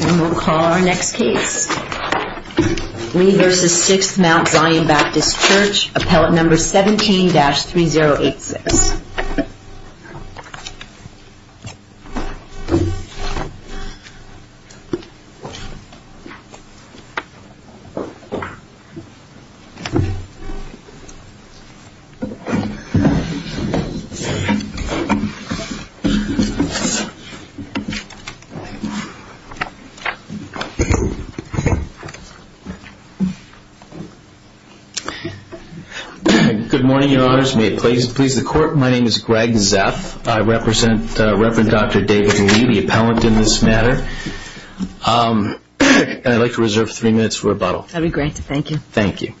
And we'll call our next case. Lee v. Sixth Mount Zion Baptist Church, appellate number 17-3086. Good morning, Your Honors. May it please the Court, my name is Greg Zeff. I represent Reverend Dr. David Lee, the appellant in this matter. And I'd like to reserve three minutes for rebuttal. That would be great. Thank you. Thank you.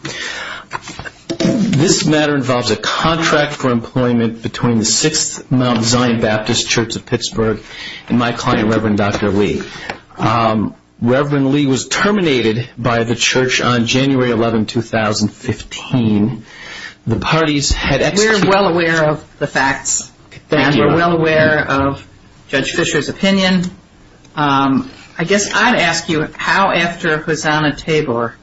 This matter involves a contract for employment between the Sixth Mount Zion Baptist Church of Pittsburgh and my client, Reverend Dr. Lee. Reverend Lee was terminated by the church on January 11, 2015. The parties had executed... We're well aware of the facts. Thank you. And we're well aware of Judge Fisher's opinion. I guess I'd ask you how, after Hosanna Tabor,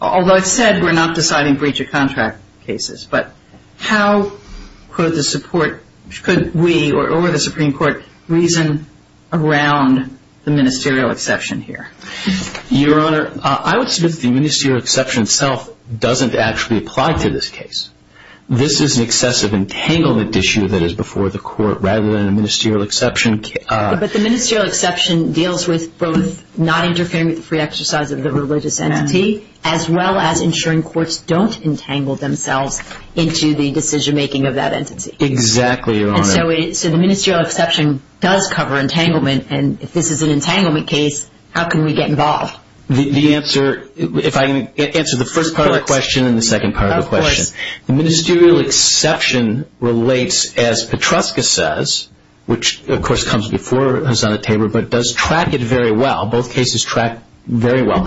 although it's said we're not deciding breach of contract cases, but how could the Supreme Court reason around the ministerial exception here? Your Honor, I would submit that the ministerial exception itself doesn't actually apply to this case. This is an excessive entanglement issue that is before the Court rather than a ministerial exception. But the ministerial exception deals with both not interfering with the free exercise of the religious entity as well as ensuring courts don't entangle themselves into the decision-making of that entity. Exactly, Your Honor. And so the ministerial exception does cover entanglement. And if this is an entanglement case, how can we get involved? The answer, if I can answer the first part of the question and the second part of the question. Of course. The ministerial exception relates, as Petruska says, which, of course, comes before Hosanna Tabor, but does track it very well, both cases track very well,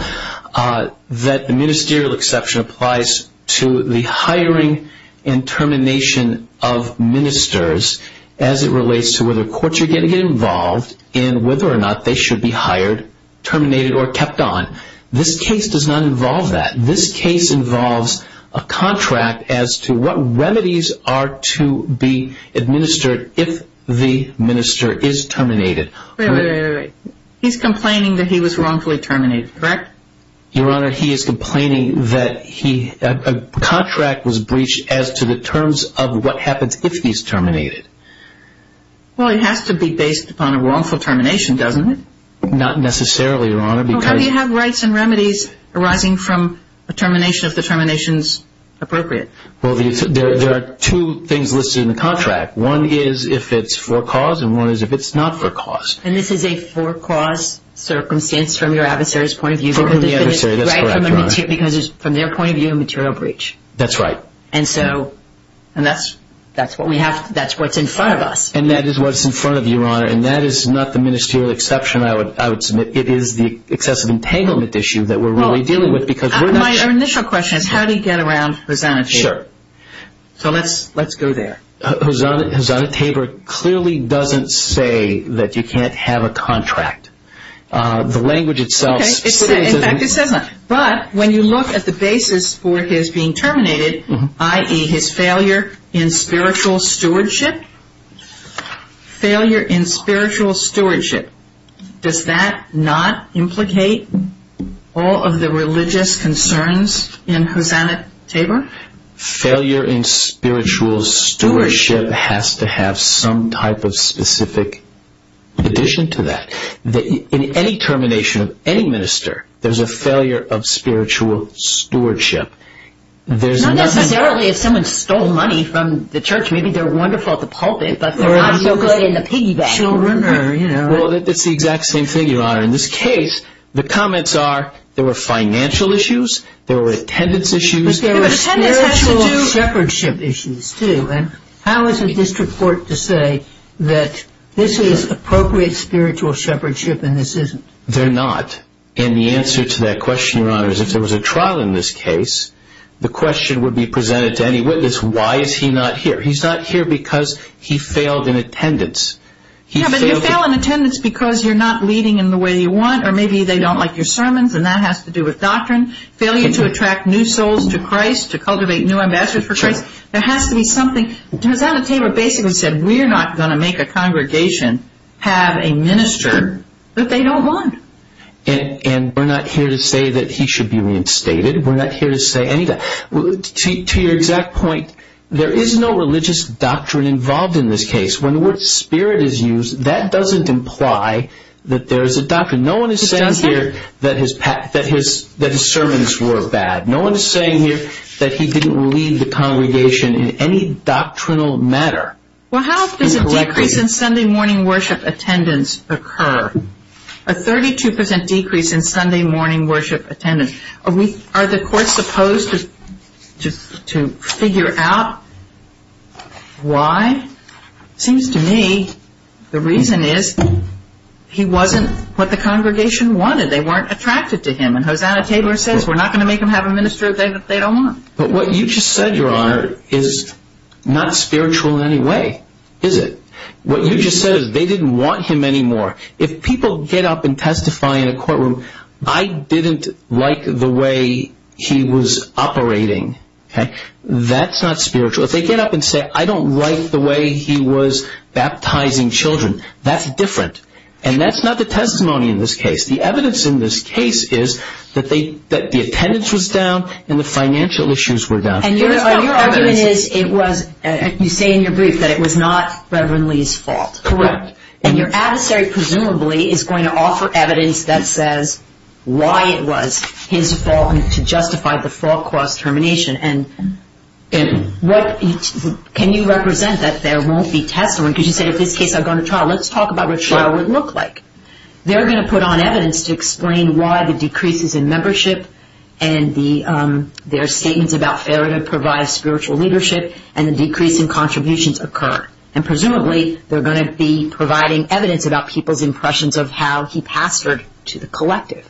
that the ministerial exception applies to the hiring and termination of ministers as it relates to whether courts are going to get involved and whether or not they should be hired, terminated, or kept on. This case does not involve that. This case involves a contract as to what remedies are to be administered if the minister is terminated. Wait, wait, wait. He's complaining that he was wrongfully terminated, correct? Your Honor, he is complaining that a contract was breached as to the terms of what happens if he's terminated. Well, it has to be based upon a wrongful termination, doesn't it? Not necessarily, Your Honor, because Well, how do you have rights and remedies arising from a termination if the termination is appropriate? Well, there are two things listed in the contract. One is if it's for cause and one is if it's not for cause. And this is a for cause circumstance from your adversary's point of view? For the adversary, that's correct, Your Honor. Because from their point of view, a material breach. That's right. And so that's what's in front of us. And that is what's in front of you, Your Honor, and that is not the ministerial exception I would submit. It is the excessive entanglement issue that we're really dealing with because we're not My initial question is how do you get around Hosanna Tabor? Sure. So let's go there. Hosanna Tabor clearly doesn't say that you can't have a contract. The language itself specifies that. In fact, it says not. But when you look at the basis for his being terminated, i.e., his failure in spiritual stewardship, failure in spiritual stewardship, does that not implicate all of the religious concerns in Hosanna Tabor? Failure in spiritual stewardship has to have some type of specific addition to that. In any termination of any minister, there's a failure of spiritual stewardship. Not necessarily if someone stole money from the church. Maybe they're wonderful at the pulpit, but they're not so good in the piggy bank. That's the exact same thing, Your Honor. In this case, the comments are there were financial issues, there were attendance issues. There were spiritual shepherdship issues, too. And how is the district court to say that this is appropriate spiritual shepherdship and this isn't? They're not. And the answer to that question, Your Honor, is if there was a trial in this case, the question would be presented to any witness, why is he not here? He's not here because he failed in attendance. Yeah, but you fail in attendance because you're not leading in the way you want or maybe they don't like your sermons, and that has to do with doctrine. Failure to attract new souls to Christ, to cultivate new ambassadors for Christ. There has to be something. It was on the table basically said we're not going to make a congregation have a minister that they don't want. And we're not here to say that he should be reinstated. We're not here to say any of that. To your exact point, there is no religious doctrine involved in this case. When the word spirit is used, that doesn't imply that there is a doctrine. No one is saying here that his sermons were bad. No one is saying here that he didn't lead the congregation in any doctrinal manner. Well, how does a decrease in Sunday morning worship attendance occur? A 32% decrease in Sunday morning worship attendance. Are the courts supposed to figure out why? It seems to me the reason is he wasn't what the congregation wanted. They weren't attracted to him. And Hosanna Taylor says we're not going to make them have a minister that they don't want. But what you just said, Your Honor, is not spiritual in any way, is it? What you just said is they didn't want him anymore. If people get up and testify in a courtroom, I didn't like the way he was operating. That's not spiritual. If they get up and say I don't like the way he was baptizing children, that's different. And that's not the testimony in this case. The evidence in this case is that the attendance was down and the financial issues were down. And your argument is you say in your brief that it was not Reverend Lee's fault. Correct. And your adversary presumably is going to offer evidence that says why it was his fault and to justify the false cross-termination. Can you represent that there won't be testimony? Because you say in this case I've gone to trial. Let's talk about what trial would look like. They're going to put on evidence to explain why the decreases in membership and their statements about fair and improvised spiritual leadership and the decrease in contributions occur. And presumably they're going to be providing evidence about people's impressions of how he pastored to the collective.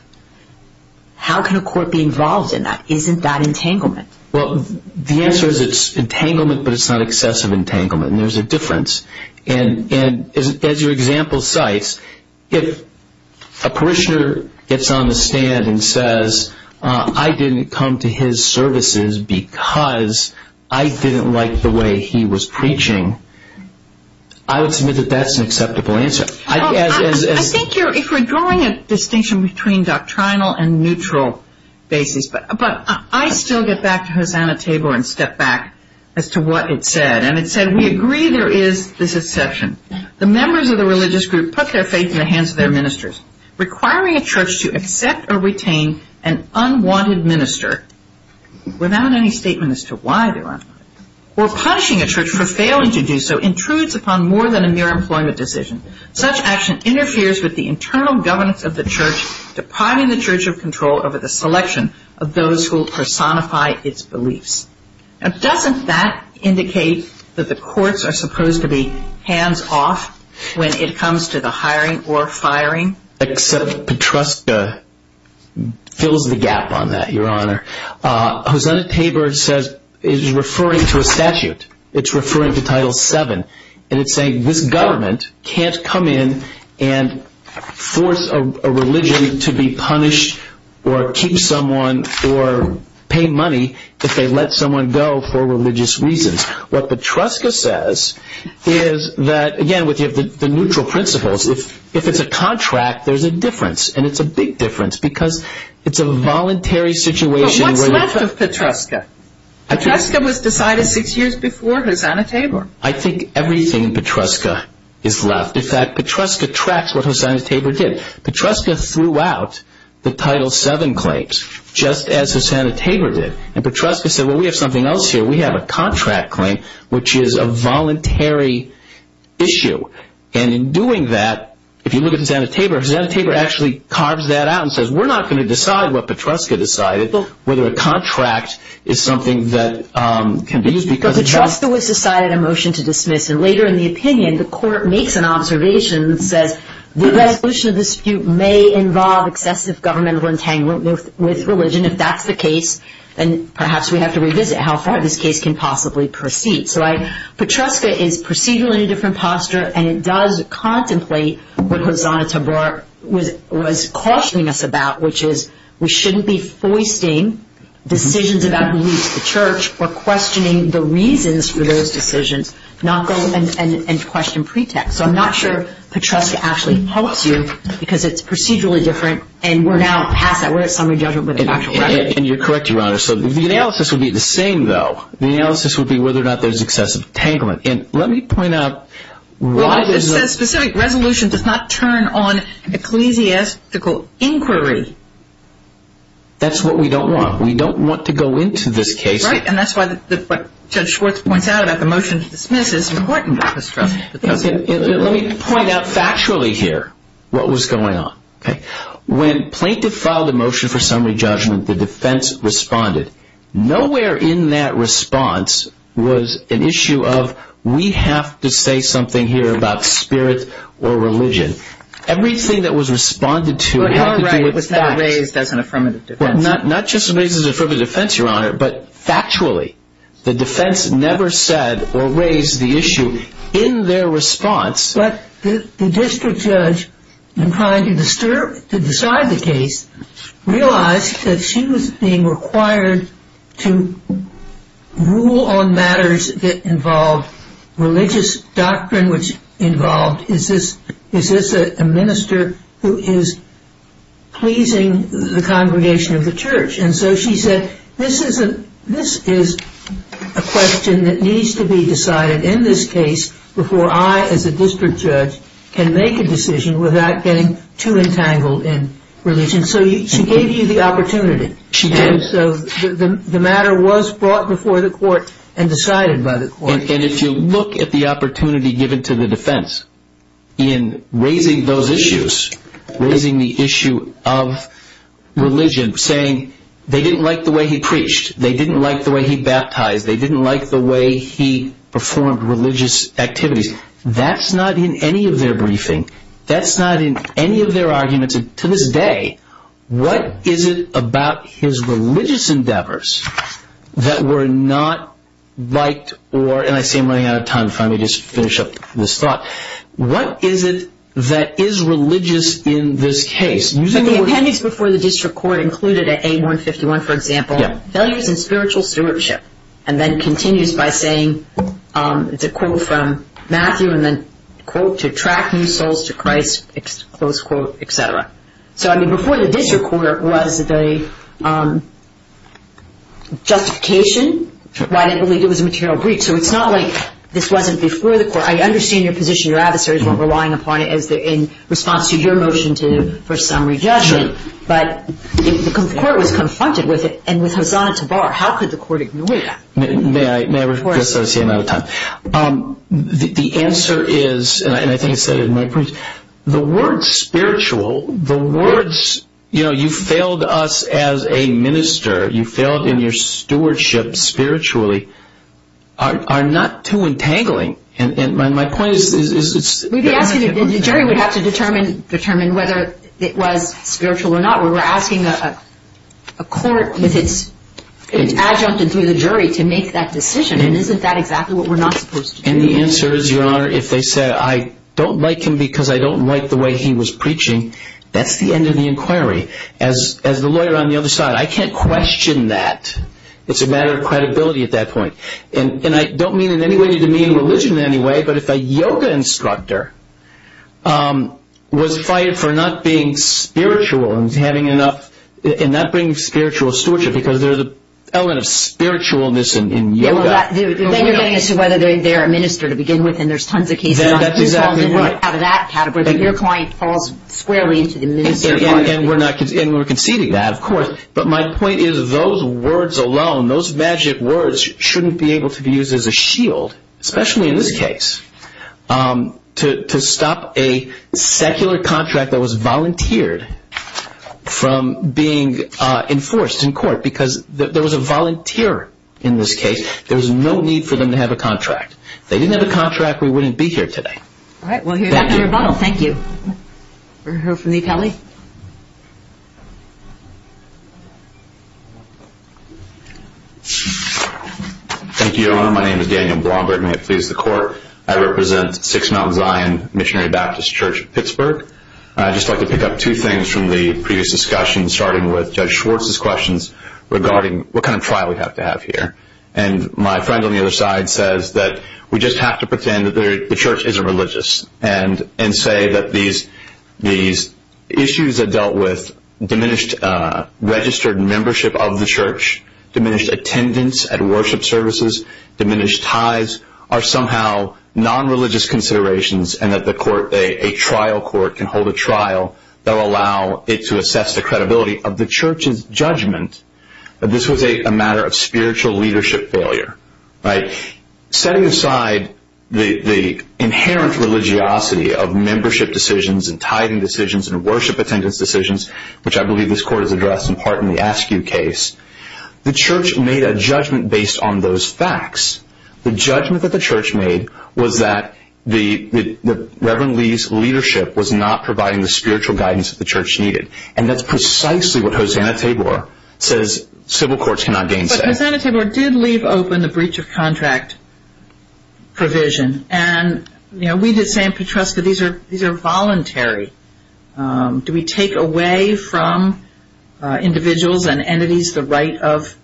How can a court be involved in that? Isn't that entanglement? Well, the answer is it's entanglement, but it's not excessive entanglement. And there's a difference. And as your example cites, if a parishioner gets on the stand and says I didn't come to his services because I didn't like the way he was preaching, I would submit that that's an acceptable answer. I think if we're drawing a distinction between doctrinal and neutral basis, but I still get back to Hosanna Table and step back as to what it said. And it said we agree there is this exception. The members of the religious group put their faith in the hands of their ministers. Requiring a church to accept or retain an unwanted minister without any statement as to why they're unwanted or punishing a church for failing to do so intrudes upon more than a mere employment decision. Depriving the church of control over the selection of those who will personify its beliefs. Now, doesn't that indicate that the courts are supposed to be hands off when it comes to the hiring or firing? Except Petruska fills the gap on that, Your Honor. Hosanna Table is referring to a statute. It's referring to Title VII. And it's saying this government can't come in and force a religion to be punished or keep someone or pay money if they let someone go for religious reasons. What Petruska says is that, again, with the neutral principles, if it's a contract, there's a difference. And it's a big difference because it's a voluntary situation. But what's left of Petruska? Petruska was decided six years before Hosanna Table. I think everything in Petruska is left. In fact, Petruska tracks what Hosanna Table did. Petruska threw out the Title VII claims, just as Hosanna Table did. And Petruska said, well, we have something else here. We have a contract claim, which is a voluntary issue. And in doing that, if you look at Hosanna Table, Hosanna Table actually carves that out and says, we're not going to decide what Petruska decided, whether a contract is something that can be used. But Petruska was decided a motion to dismiss. And later in the opinion, the court makes an observation that says, the resolution of the dispute may involve excessive governmental entanglement with religion. If that's the case, then perhaps we have to revisit how far this case can possibly proceed. So Petruska is procedurally in a different posture. And it does contemplate what Hosanna Table was cautioning us about, which is we shouldn't be foisting decisions about who leads the church or questioning the reasons for those decisions and question pretexts. So I'm not sure Petruska actually helps you because it's procedurally different. And we're now past that. We're at summary judgment with a factual remedy. And you're correct, Your Honor. So the analysis would be the same, though. The analysis would be whether or not there's excessive entanglement. And let me point out why there's a- Well, it says specific resolution does not turn on ecclesiastical inquiry. That's what we don't want. We don't want to go into this case. Right. And that's why what Judge Schwartz points out about the motion to dismiss is important, Petruska. Let me point out factually here what was going on. When plaintiff filed a motion for summary judgment, the defense responded. Nowhere in that response was an issue of we have to say something here about spirit or religion. Everything that was responded to had to do with facts. But how right was that raised as an affirmative defense? Not just raised as an affirmative defense, Your Honor, but factually. The defense never said or raised the issue in their response. But the district judge, in trying to decide the case, realized that she was being required to rule on matters that involved religious doctrine, which involved is this a minister who is pleasing the congregation of the church. And so she said this is a question that needs to be decided in this case before I, as a district judge, can make a decision without getting too entangled in religion. So she gave you the opportunity. She did. So the matter was brought before the court and decided by the court. And if you look at the opportunity given to the defense in raising those issues, raising the issue of religion, saying they didn't like the way he preached, they didn't like the way he baptized, they didn't like the way he performed religious activities, that's not in any of their briefing. That's not in any of their arguments. To this day, what is it about his religious endeavors that were not liked or, and I see I'm running out of time. If I may just finish up this thought. What is it that is religious in this case? The appendix before the district court included at A151, for example, failures in spiritual stewardship, and then continues by saying, it's a quote from Matthew, and then quote, to attract new souls to Christ, close quote, et cetera. So, I mean, before the district court was the justification why they believed it was a material breach. I understand your position, your adversaries weren't relying upon it in response to your motion for summary judgment. But the court was confronted with it, and with Hosanna to bar. How could the court ignore that? May I just say I'm out of time? The answer is, and I think I said it in my brief, the word spiritual, the words, you know, you failed us as a minister, you failed in your stewardship spiritually, are not too entangling. And my point is it's. The jury would have to determine whether it was spiritual or not. We're asking a court with its adjunct and through the jury to make that decision, and isn't that exactly what we're not supposed to do? And the answer is, Your Honor, if they say I don't like him because I don't like the way he was preaching, that's the end of the inquiry. As the lawyer on the other side, I can't question that. It's a matter of credibility at that point. And I don't mean in any way to demean religion in any way, but if a yoga instructor was fired for not being spiritual and not bringing spiritual stewardship, because there's an element of spiritualness in yoga. Then you're getting as to whether they're a minister to begin with, and there's tons of cases on who falls out of that category. If your client falls squarely into the ministerial category. And we're conceding that, of course. But my point is those words alone, those magic words, shouldn't be able to be used as a shield, especially in this case, to stop a secular contract that was volunteered from being enforced in court. Because there was a volunteer in this case. There was no need for them to have a contract. If they didn't have a contract, we wouldn't be here today. All right. Thank you, Your Honor. My name is Daniel Blomberg. May it please the Court. I represent Six Mountain Zion Missionary Baptist Church of Pittsburgh. I'd just like to pick up two things from the previous discussion, starting with Judge Schwartz's questions regarding what kind of trial we have to have here. And my friend on the other side says that we just have to pretend that the church isn't religious and say that these issues that dealt with diminished registered membership of the church, diminished attendance at worship services, diminished tithes, are somehow nonreligious considerations and that a trial court can hold a trial that will allow it to assess the credibility of the church's judgment that this was a matter of spiritual leadership failure. Setting aside the inherent religiosity of membership decisions and tithing decisions and worship attendance decisions, which I believe this Court has addressed in part in the Askew case, the church made a judgment based on those facts. The judgment that the church made was that the Reverend Lee's leadership was not providing the spiritual guidance that the church needed. And that's precisely what Hosanna Tabor says civil courts cannot gainsay. Hosanna Tabor did leave open the breach of contract provision. And we did say in Petresca these are voluntary. Do we take away from individuals and entities the right of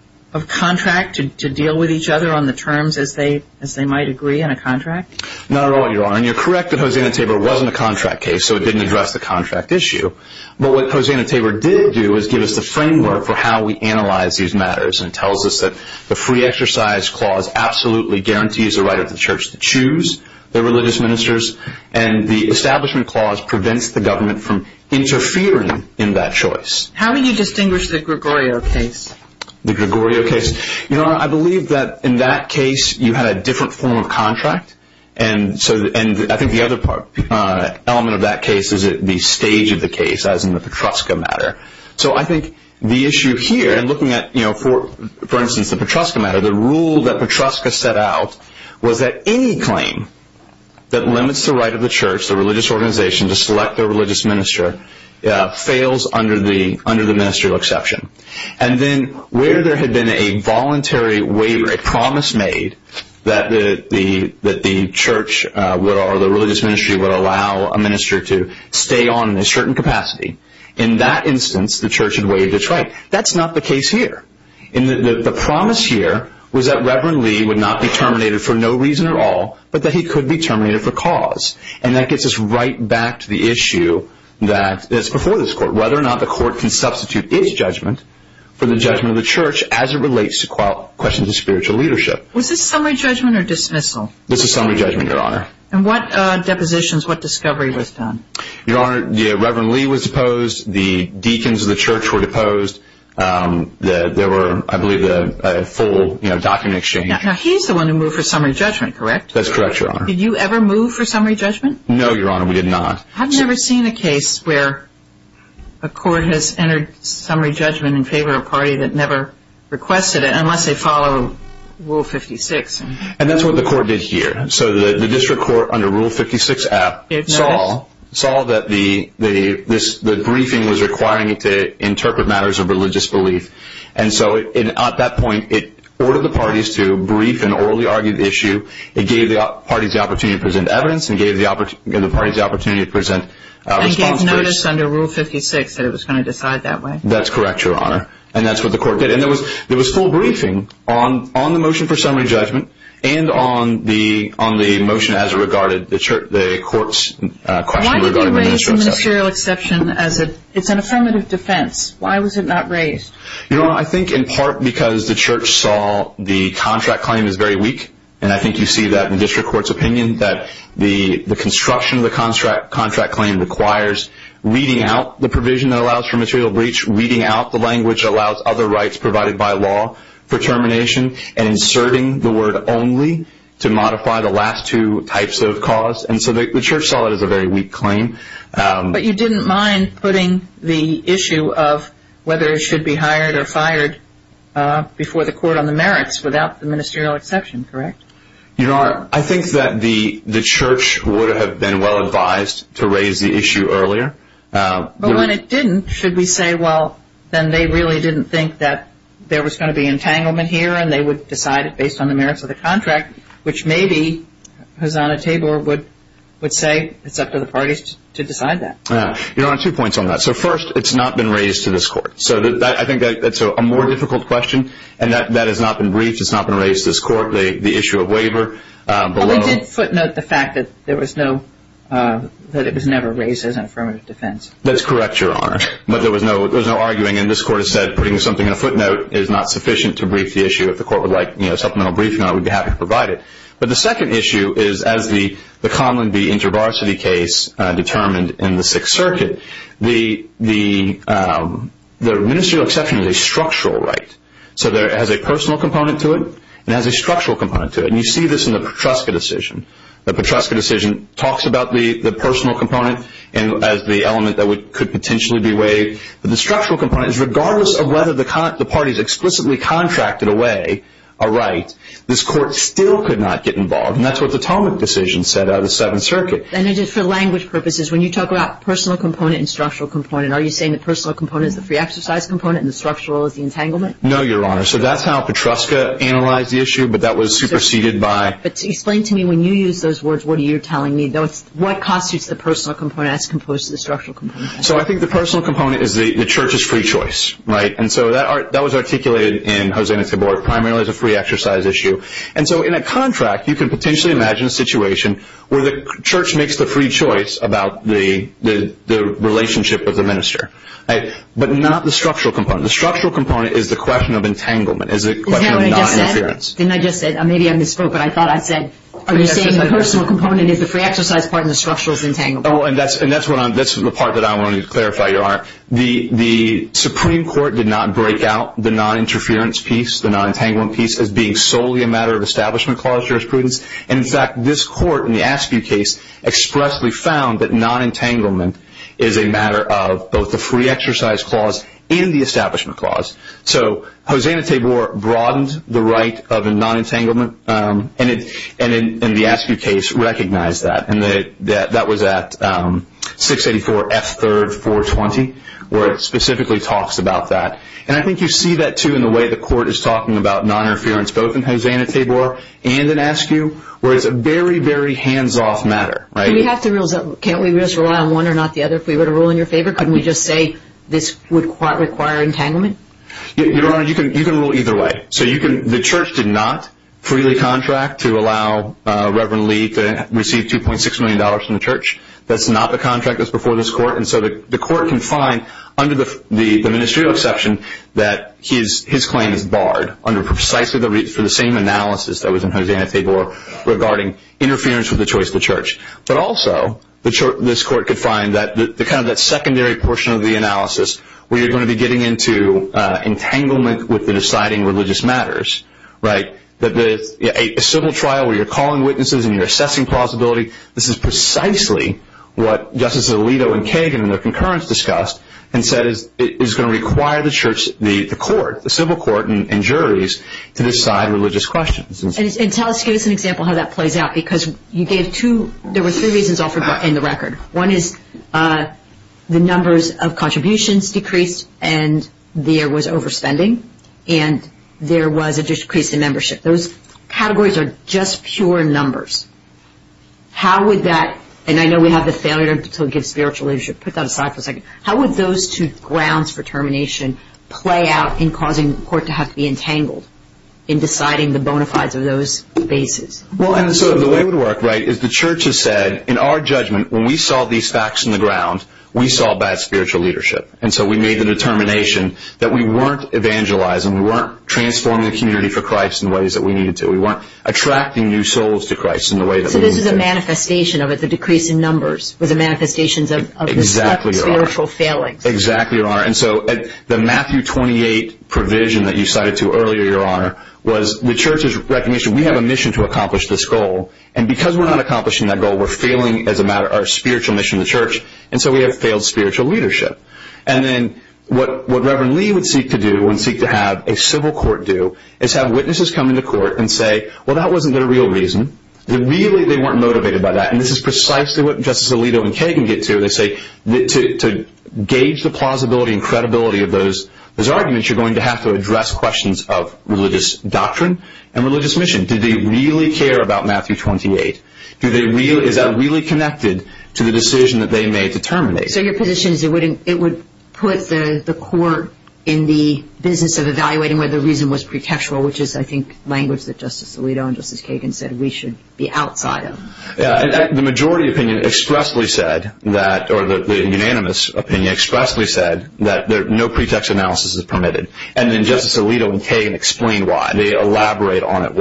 contract to deal with each other on the terms as they might agree in a contract? Not at all, Your Honor. And you're correct that Hosanna Tabor wasn't a contract case, so it didn't address the contract issue. But what Hosanna Tabor did do is give us the framework for how we analyze these matters and tells us that the free exercise clause absolutely guarantees the right of the church to choose their religious ministers. And the establishment clause prevents the government from interfering in that choice. How would you distinguish the Gregorio case? The Gregorio case? Your Honor, I believe that in that case you had a different form of contract. And I think the other element of that case is the stage of the case as in the Petresca matter. So I think the issue here in looking at, for instance, the Petresca matter, the rule that Petresca set out was that any claim that limits the right of the church, the religious organization, to select their religious minister fails under the ministerial exception. And then where there had been a voluntary waiver, a promise made, that the church or the religious ministry would allow a minister to stay on in a certain capacity, in that instance the church had waived its right. That's not the case here. The promise here was that Reverend Lee would not be terminated for no reason at all, but that he could be terminated for cause. And that gets us right back to the issue that's before this Court, whether or not the Court can substitute its judgment for the judgment of the church as it relates to questions of spiritual leadership. Was this summary judgment or dismissal? This is summary judgment, Your Honor. And what depositions, what discovery was done? Your Honor, Reverend Lee was deposed. The deacons of the church were deposed. There were, I believe, a full document exchange. Now he's the one who moved for summary judgment, correct? That's correct, Your Honor. Did you ever move for summary judgment? No, Your Honor, we did not. I've never seen a case where a court has entered summary judgment in favor of a party that never requested it unless they follow Rule 56. And that's what the court did here. So the district court under Rule 56 saw that the briefing was requiring it to interpret matters of religious belief. And so at that point it ordered the parties to brief an orally argued issue. It gave the parties the opportunity to present evidence and gave the parties the opportunity to present responses. And gave notice under Rule 56 that it was going to decide that way. That's correct, Your Honor. And that's what the court did. And there was full briefing on the motion for summary judgment and on the motion as it regarded the court's question regarding the ministerial exception. Why did they raise the ministerial exception as an affirmative defense? Why was it not raised? Your Honor, I think in part because the church saw the contract claim as very weak and I think you see that in district court's opinion that the construction of the contract claim requires reading out the provision that allows for material breach, reading out the language that allows other rights provided by law for termination, and inserting the word only to modify the last two types of cause. And so the church saw it as a very weak claim. But you didn't mind putting the issue of whether it should be hired or fired before the court on the merits without the ministerial exception, correct? Your Honor, I think that the church would have been well advised to raise the issue earlier. But when it didn't, should we say, well, then they really didn't think that there was going to be entanglement here and they would decide it based on the merits of the contract, which maybe Hosanna Tabor would say it's up to the parties to decide that. Your Honor, two points on that. So first, it's not been raised to this court. So I think that's a more difficult question. And that has not been briefed. It's not been raised to this court, the issue of waiver. But we did footnote the fact that it was never raised as an affirmative defense. That's correct, Your Honor. But there was no arguing. And this court has said putting something in a footnote is not sufficient to brief the issue. If the court would like supplemental briefing on it, we'd be happy to provide it. But the second issue is, as the Conlon v. InterVarsity case determined in the Sixth Circuit, the ministerial exception is a structural right. So it has a personal component to it. It has a structural component to it. And you see this in the Petruska decision. The Petruska decision talks about the personal component as the element that could potentially be waived. But the structural component is regardless of whether the parties explicitly contracted away a right, this court still could not get involved. And that's what the Tomek decision said out of the Seventh Circuit. And for language purposes, when you talk about personal component and structural component, are you saying the personal component is the free exercise component and the structural is the entanglement? No, Your Honor. So that's how Petruska analyzed the issue, but that was superseded by – But explain to me when you use those words, what you're telling me, what constitutes the personal component as opposed to the structural component? So I think the personal component is the church's free choice, right? And so that was articulated in Hosein et al. Primarily it's a free exercise issue. And so in a contract, you could potentially imagine a situation where the church makes the free choice about the relationship with the minister, but not the structural component. The structural component is the question of entanglement, is the question of noninterference. Isn't that what I just said? Didn't I just say – maybe I misspoke, but I thought I said – Are you saying the personal component is the free exercise part and the structural is entanglement? Oh, and that's the part that I wanted to clarify, Your Honor. The Supreme Court did not break out the noninterference piece, the nonentanglement piece, as being solely a matter of Establishment Clause jurisprudence. In fact, this court in the Askew case expressly found that nonentanglement is a matter of both the free exercise clause and the Establishment Clause. So Hosein et al. broadened the right of nonentanglement, and the Askew case recognized that. And that was at 684 F. 3rd. 420, where it specifically talks about that. And I think you see that, too, in the way the court is talking about noninterference, both in Hosein et al. and in Askew, where it's a very, very hands-off matter. Can't we just rely on one or not the other? If we were to rule in your favor, couldn't we just say this would require entanglement? Your Honor, you can rule either way. The church did not freely contract to allow Reverend Lee to receive $2.6 million from the church. That's not the contract that's before this court. And so the court can find, under the ministerial exception, that his claim is barred under precisely the same analysis that was in Hosein et al. regarding interference with the choice of the church. But also this court could find that kind of that secondary portion of the analysis where you're going to be getting into entanglement with the deciding religious matters, right? A civil trial where you're calling witnesses and you're assessing plausibility, this is precisely what Justice Alito and Kagan in their concurrence discussed and said is going to require the court, the civil court and juries, to decide religious questions. And tell us, give us an example how that plays out because you gave two, there were three reasons offered in the record. One is the numbers of contributions decreased and there was overspending and there was a decrease in membership. Those categories are just pure numbers. How would that, and I know we have the failure to give spiritual leadership, put that aside for a second, how would those two grounds for termination play out in causing the court to have to be entangled in deciding the bona fides of those bases? Well, and so the way it would work, right, is the church has said, in our judgment, when we saw these facts in the ground, we saw bad spiritual leadership. And so we made the determination that we weren't evangelizing, we weren't transforming the community for Christ in ways that we needed to, we weren't attracting new souls to Christ in the way that we needed to. So this is a manifestation of it, the decrease in numbers, was a manifestation of the spiritual failings. Exactly, Your Honor. And so the Matthew 28 provision that you cited to earlier, Your Honor, was the church's recognition we have a mission to accomplish this goal and because we're not accomplishing that goal, we're failing as a matter of our spiritual mission to the church and so we have failed spiritual leadership. And then what Reverend Lee would seek to do and seek to have a civil court do is have witnesses come into court and say, well, that wasn't their real reason. Really, they weren't motivated by that. And this is precisely what Justice Alito and Kagan get to. They say to gauge the plausibility and credibility of those arguments, you're going to have to address questions of religious doctrine and religious mission. Do they really care about Matthew 28? Is that really connected to the decision that they made to terminate? So your position is it would put the court in the business of evaluating whether the reason was pretextual, which is, I think, language that Justice Alito and Justice Kagan said we should be outside of. The majority opinion expressly said, or the unanimous opinion expressly said, that no pretext analysis is permitted. And then Justice Alito and Kagan explained why. They elaborate on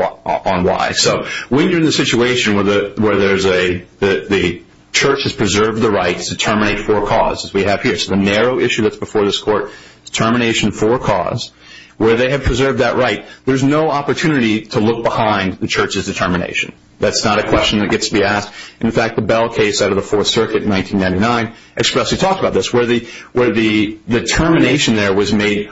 why. So when you're in the situation where the church has preserved the right to terminate for a cause, as we have here, so the narrow issue that's before this court is termination for a cause, where they have preserved that right, there's no opportunity to look behind the church's determination. That's not a question that gets to be asked. In fact, the Bell case out of the Fourth Circuit in 1999 expressly talked about this, where the determination there was made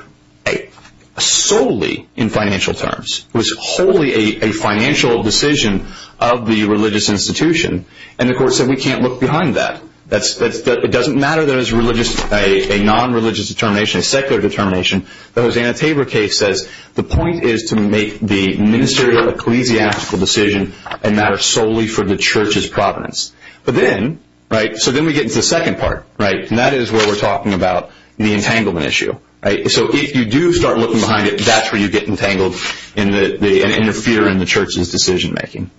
solely in financial terms. It was wholly a financial decision of the religious institution. And the court said, we can't look behind that. It doesn't matter that it was a non-religious determination, a secular determination. The Hosanna Tabor case says the point is to make the ministerial ecclesiastical decision and matter solely for the church's provenance. So then we get into the second part, and that is where we're talking about the entanglement issue. So if you do start looking behind it, that's where you get entangled and interfere in the church's decision making.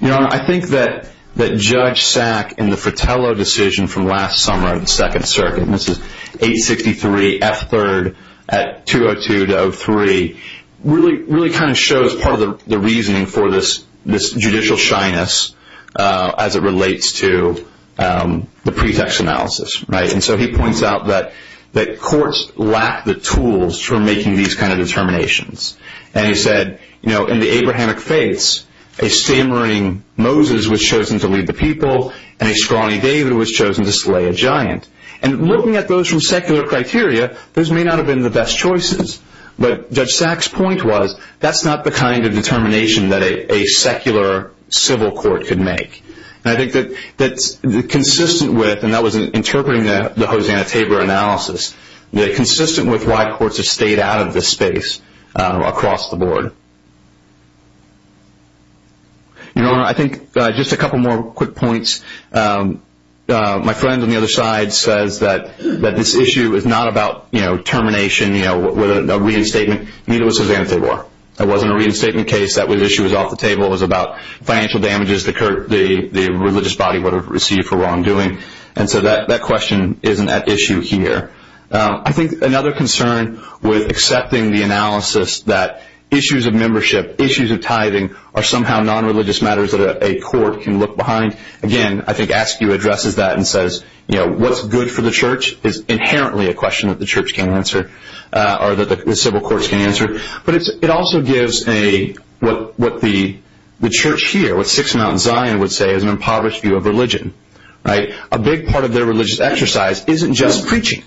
Your Honor, I think that Judge Sack in the Fratello decision from last summer in the Second Circuit, and this is 863 F3rd at 202-03, really kind of shows part of the reasoning for this judicial shyness as it relates to the pretext analysis. And so he points out that courts lack the tools for making these kind of determinations. And he said, in the Abrahamic faiths, a stammering Moses was chosen to lead the people, and a scrawny David was chosen to slay a giant. And looking at those from secular criteria, those may not have been the best choices. But Judge Sack's point was, that's not the kind of determination that a secular civil court could make. And I think that consistent with, and that was interpreting the Hosanna-Tabor analysis, that consistent with why courts have stayed out of this space across the board. Your Honor, I think just a couple more quick points. My friend on the other side says that this issue is not about termination, a reinstatement. Neither was Hosanna-Tabor. That wasn't a reinstatement case. That issue was off the table. It was about financial damages the religious body would have received for wrongdoing. And so that question isn't at issue here. I think another concern with accepting the analysis that issues of membership, issues of tithing, are somehow nonreligious matters that a court can look behind. Again, I think Askew addresses that and says, you know, what's good for the church is inherently a question that the church can answer, or that the civil courts can answer. But it also gives what the church here, what Sixth Mountain Zion would say is an impoverished view of religion. A big part of their religious exercise isn't just preaching.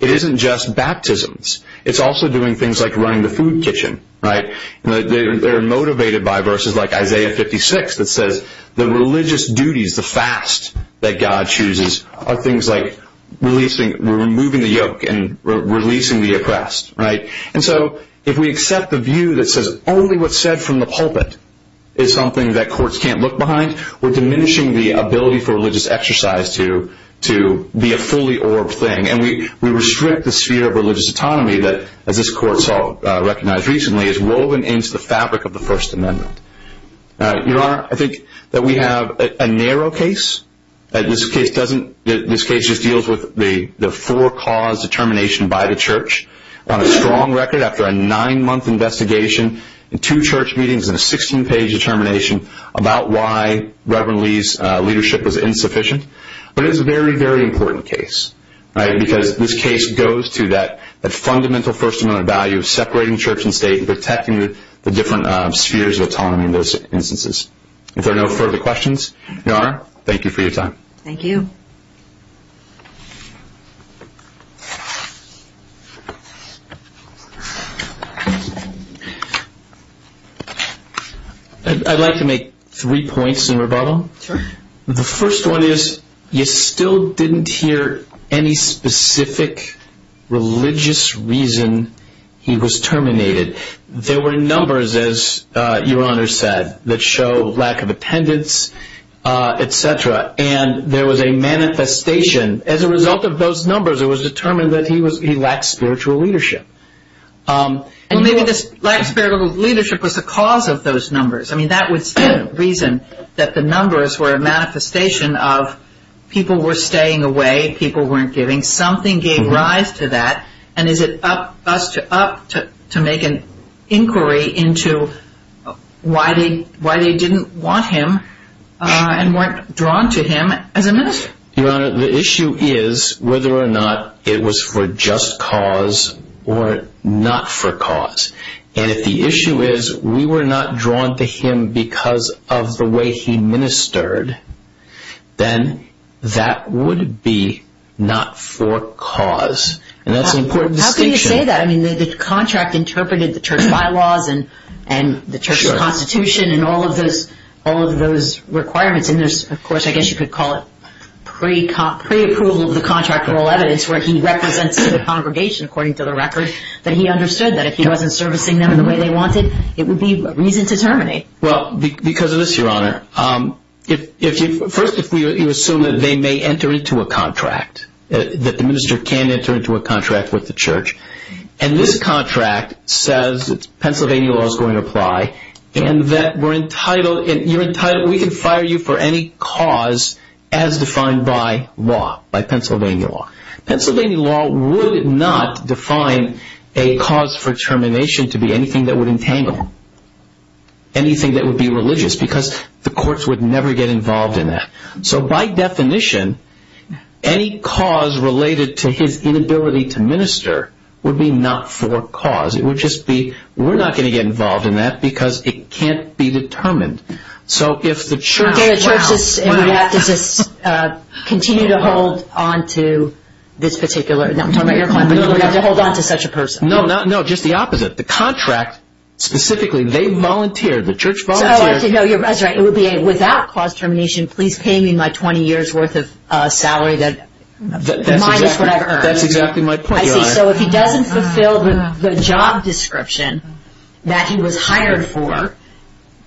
It isn't just baptisms. It's also doing things like running the food kitchen. They're motivated by verses like Isaiah 56 that says the religious duties, the fast that God chooses, And so if we accept the view that says only what's said from the pulpit is something that courts can't look behind, we're diminishing the ability for religious exercise to be a fully orbed thing. And we restrict the sphere of religious autonomy that, as this court recognized recently, is woven into the fabric of the First Amendment. Your Honor, I think that we have a narrow case. This case just deals with the four-cause determination by the church. On a strong record, after a nine-month investigation, two church meetings, and a 16-page determination about why Reverend Lee's leadership was insufficient. But it is a very, very important case because this case goes to that fundamental First Amendment value of separating church and state and protecting the different spheres of autonomy in those instances. If there are no further questions, Your Honor, thank you for your time. Thank you. I'd like to make three points in rebuttal. Sure. The first one is you still didn't hear any specific religious reason he was terminated. There were numbers, as Your Honor said, that show lack of attendance, et cetera. And there was a manifestation. As a result of those numbers, it was determined that he lacked spiritual leadership. And maybe this lack of spiritual leadership was the cause of those numbers. I mean, that was the reason that the numbers were a manifestation of people were staying away, people weren't giving. Something gave rise to that. And is it up to us to make an inquiry into why they didn't want him and weren't drawn to him as a minister? Your Honor, the issue is whether or not it was for just cause or not for cause. And if the issue is we were not drawn to him because of the way he ministered, then that would be not for cause. And that's an important distinction. How can you say that? I mean, the contract interpreted the church bylaws and the church constitution and all of those requirements. And there's, of course, I guess you could call it pre-approval of the contract for all evidence where he represents the congregation, according to the record, that he understood that if he wasn't servicing them in the way they wanted, it would be reason to terminate. Well, because of this, Your Honor. First, if you assume that they may enter into a contract, that the minister can enter into a contract with the church, and this contract says Pennsylvania law is going to apply and that we're entitled, you're entitled, we can fire you for any cause as defined by law, by Pennsylvania law. Pennsylvania law would not define a cause for termination to be anything that would entangle, anything that would be religious, because the courts would never get involved in that. So by definition, any cause related to his inability to minister would be not for cause. It would just be, we're not going to get involved in that because it can't be determined. So if the church is, and we have to just continue to hold on to this particular, I'm talking about your client, but you have to hold on to such a person. No, just the opposite. The contract, specifically, they volunteer, the church volunteers. So I have to know, that's right, it would be without cause termination, please pay me my 20 years worth of salary minus whatever I earned. That's exactly my point, Your Honor. I see. So if he doesn't fulfill the job description that he was hired for,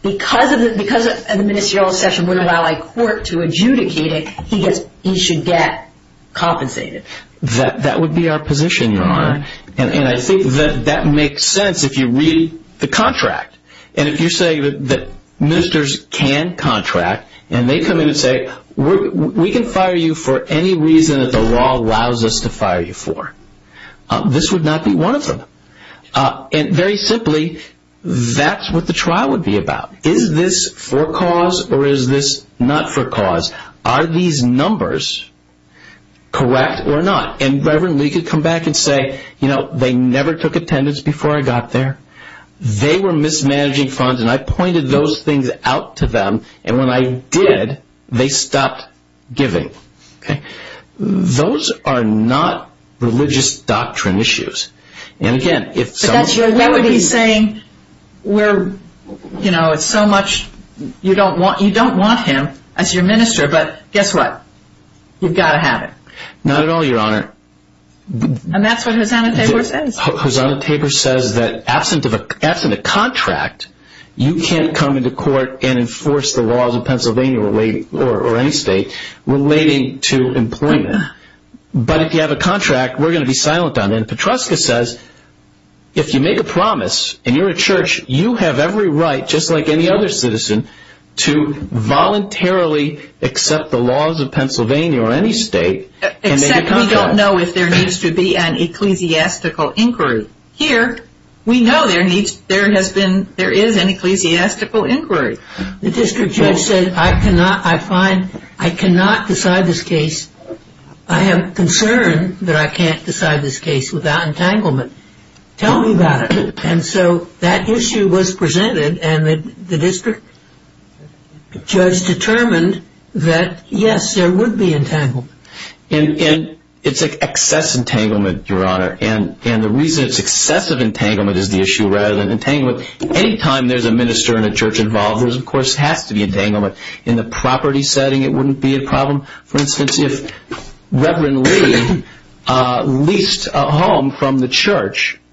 because the ministerial session wouldn't allow a court to adjudicate it, he should get compensated. That would be our position, Your Honor. And I think that that makes sense if you read the contract. And if you say that ministers can contract, and they come in and say, we can fire you for any reason that the law allows us to fire you for. This would not be one of them. And very simply, that's what the trial would be about. Is this for cause or is this not for cause? Are these numbers correct or not? And Reverend Lee could come back and say, you know, they never took attendance before I got there. They were mismanaging funds, and I pointed those things out to them, and when I did, they stopped giving. Those are not religious doctrine issues. And, again, if somebody would be saying we're, you know, it's so much, you don't want him as your minister, but guess what? You've got to have it. Not at all, Your Honor. And that's what Hosanna Tabor says. Hosanna Tabor says that absent a contract, you can't come into court and enforce the laws of Pennsylvania or any state relating to employment. But if you have a contract, we're going to be silent on it. And Petroska says if you make a promise and you're a church, you have every right, just like any other citizen, to voluntarily accept the laws of Pennsylvania or any state and make a contract. Except we don't know if there needs to be an ecclesiastical inquiry. Here, we know there is an ecclesiastical inquiry. The district judge said I cannot decide this case. I have concern that I can't decide this case without entanglement. Tell me about it. And so that issue was presented, and the district judge determined that, yes, there would be entanglement. And it's excess entanglement, Your Honor. And the reason it's excessive entanglement is the issue rather than entanglement, any time there's a minister and a church involved, there, of course, has to be entanglement. In the property setting, it wouldn't be a problem.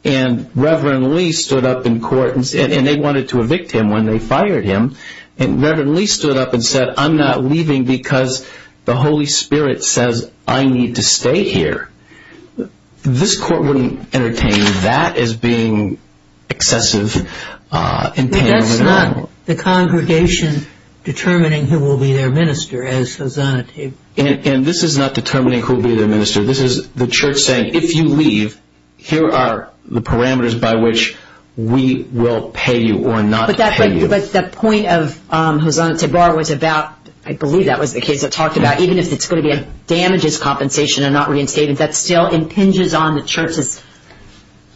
And Reverend Lee stood up in court, and they wanted to evict him when they fired him, and Reverend Lee stood up and said I'm not leaving because the Holy Spirit says I need to stay here. This court wouldn't entertain that as being excessive entanglement. But that's not the congregation determining who will be their minister, as Hosanna said. And this is not determining who will be their minister. This is the church saying if you leave, here are the parameters by which we will pay you or not pay you. But the point of Hosanna Tabar was about, I believe that was the case that talked about, even if it's going to be a damages compensation and not reinstated, that still impinges on the church's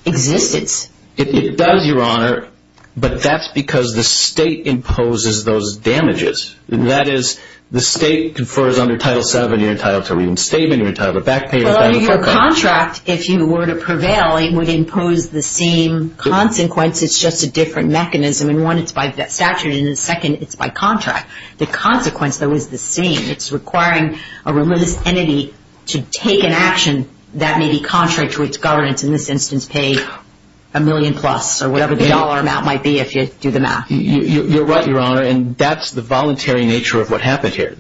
existence. It does, Your Honor, but that's because the state imposes those damages. That is, the state confers on your Title VII, your Title II, your statement, your title of back payment. Your contract, if you were to prevail, it would impose the same consequence. It's just a different mechanism. In one, it's by statute. In the second, it's by contract. The consequence, though, is the same. It's requiring a religious entity to take an action that may be contrary to its governance, in this instance, pay a million plus or whatever the dollar amount might be if you do the math. You're right, Your Honor, and that's the voluntary nature of what happened here,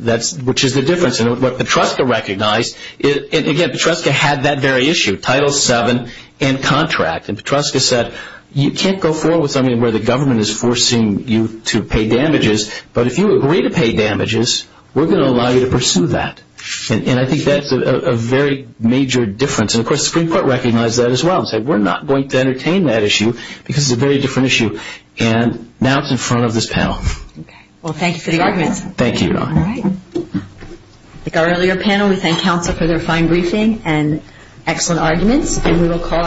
which is the difference. And what Petroska recognized, again, Petroska had that very issue, Title VII and contract. And Petroska said you can't go forward with something where the government is forcing you to pay damages, but if you agree to pay damages, we're going to allow you to pursue that. And I think that's a very major difference. And, of course, the Supreme Court recognized that as well and said we're not going to entertain that issue because it's a very different issue. And now it's in front of this panel. Okay. Well, thank you for the arguments. Thank you, Your Honor. All right. Like our earlier panel, we thank counsel for their fine briefing and excellent arguments.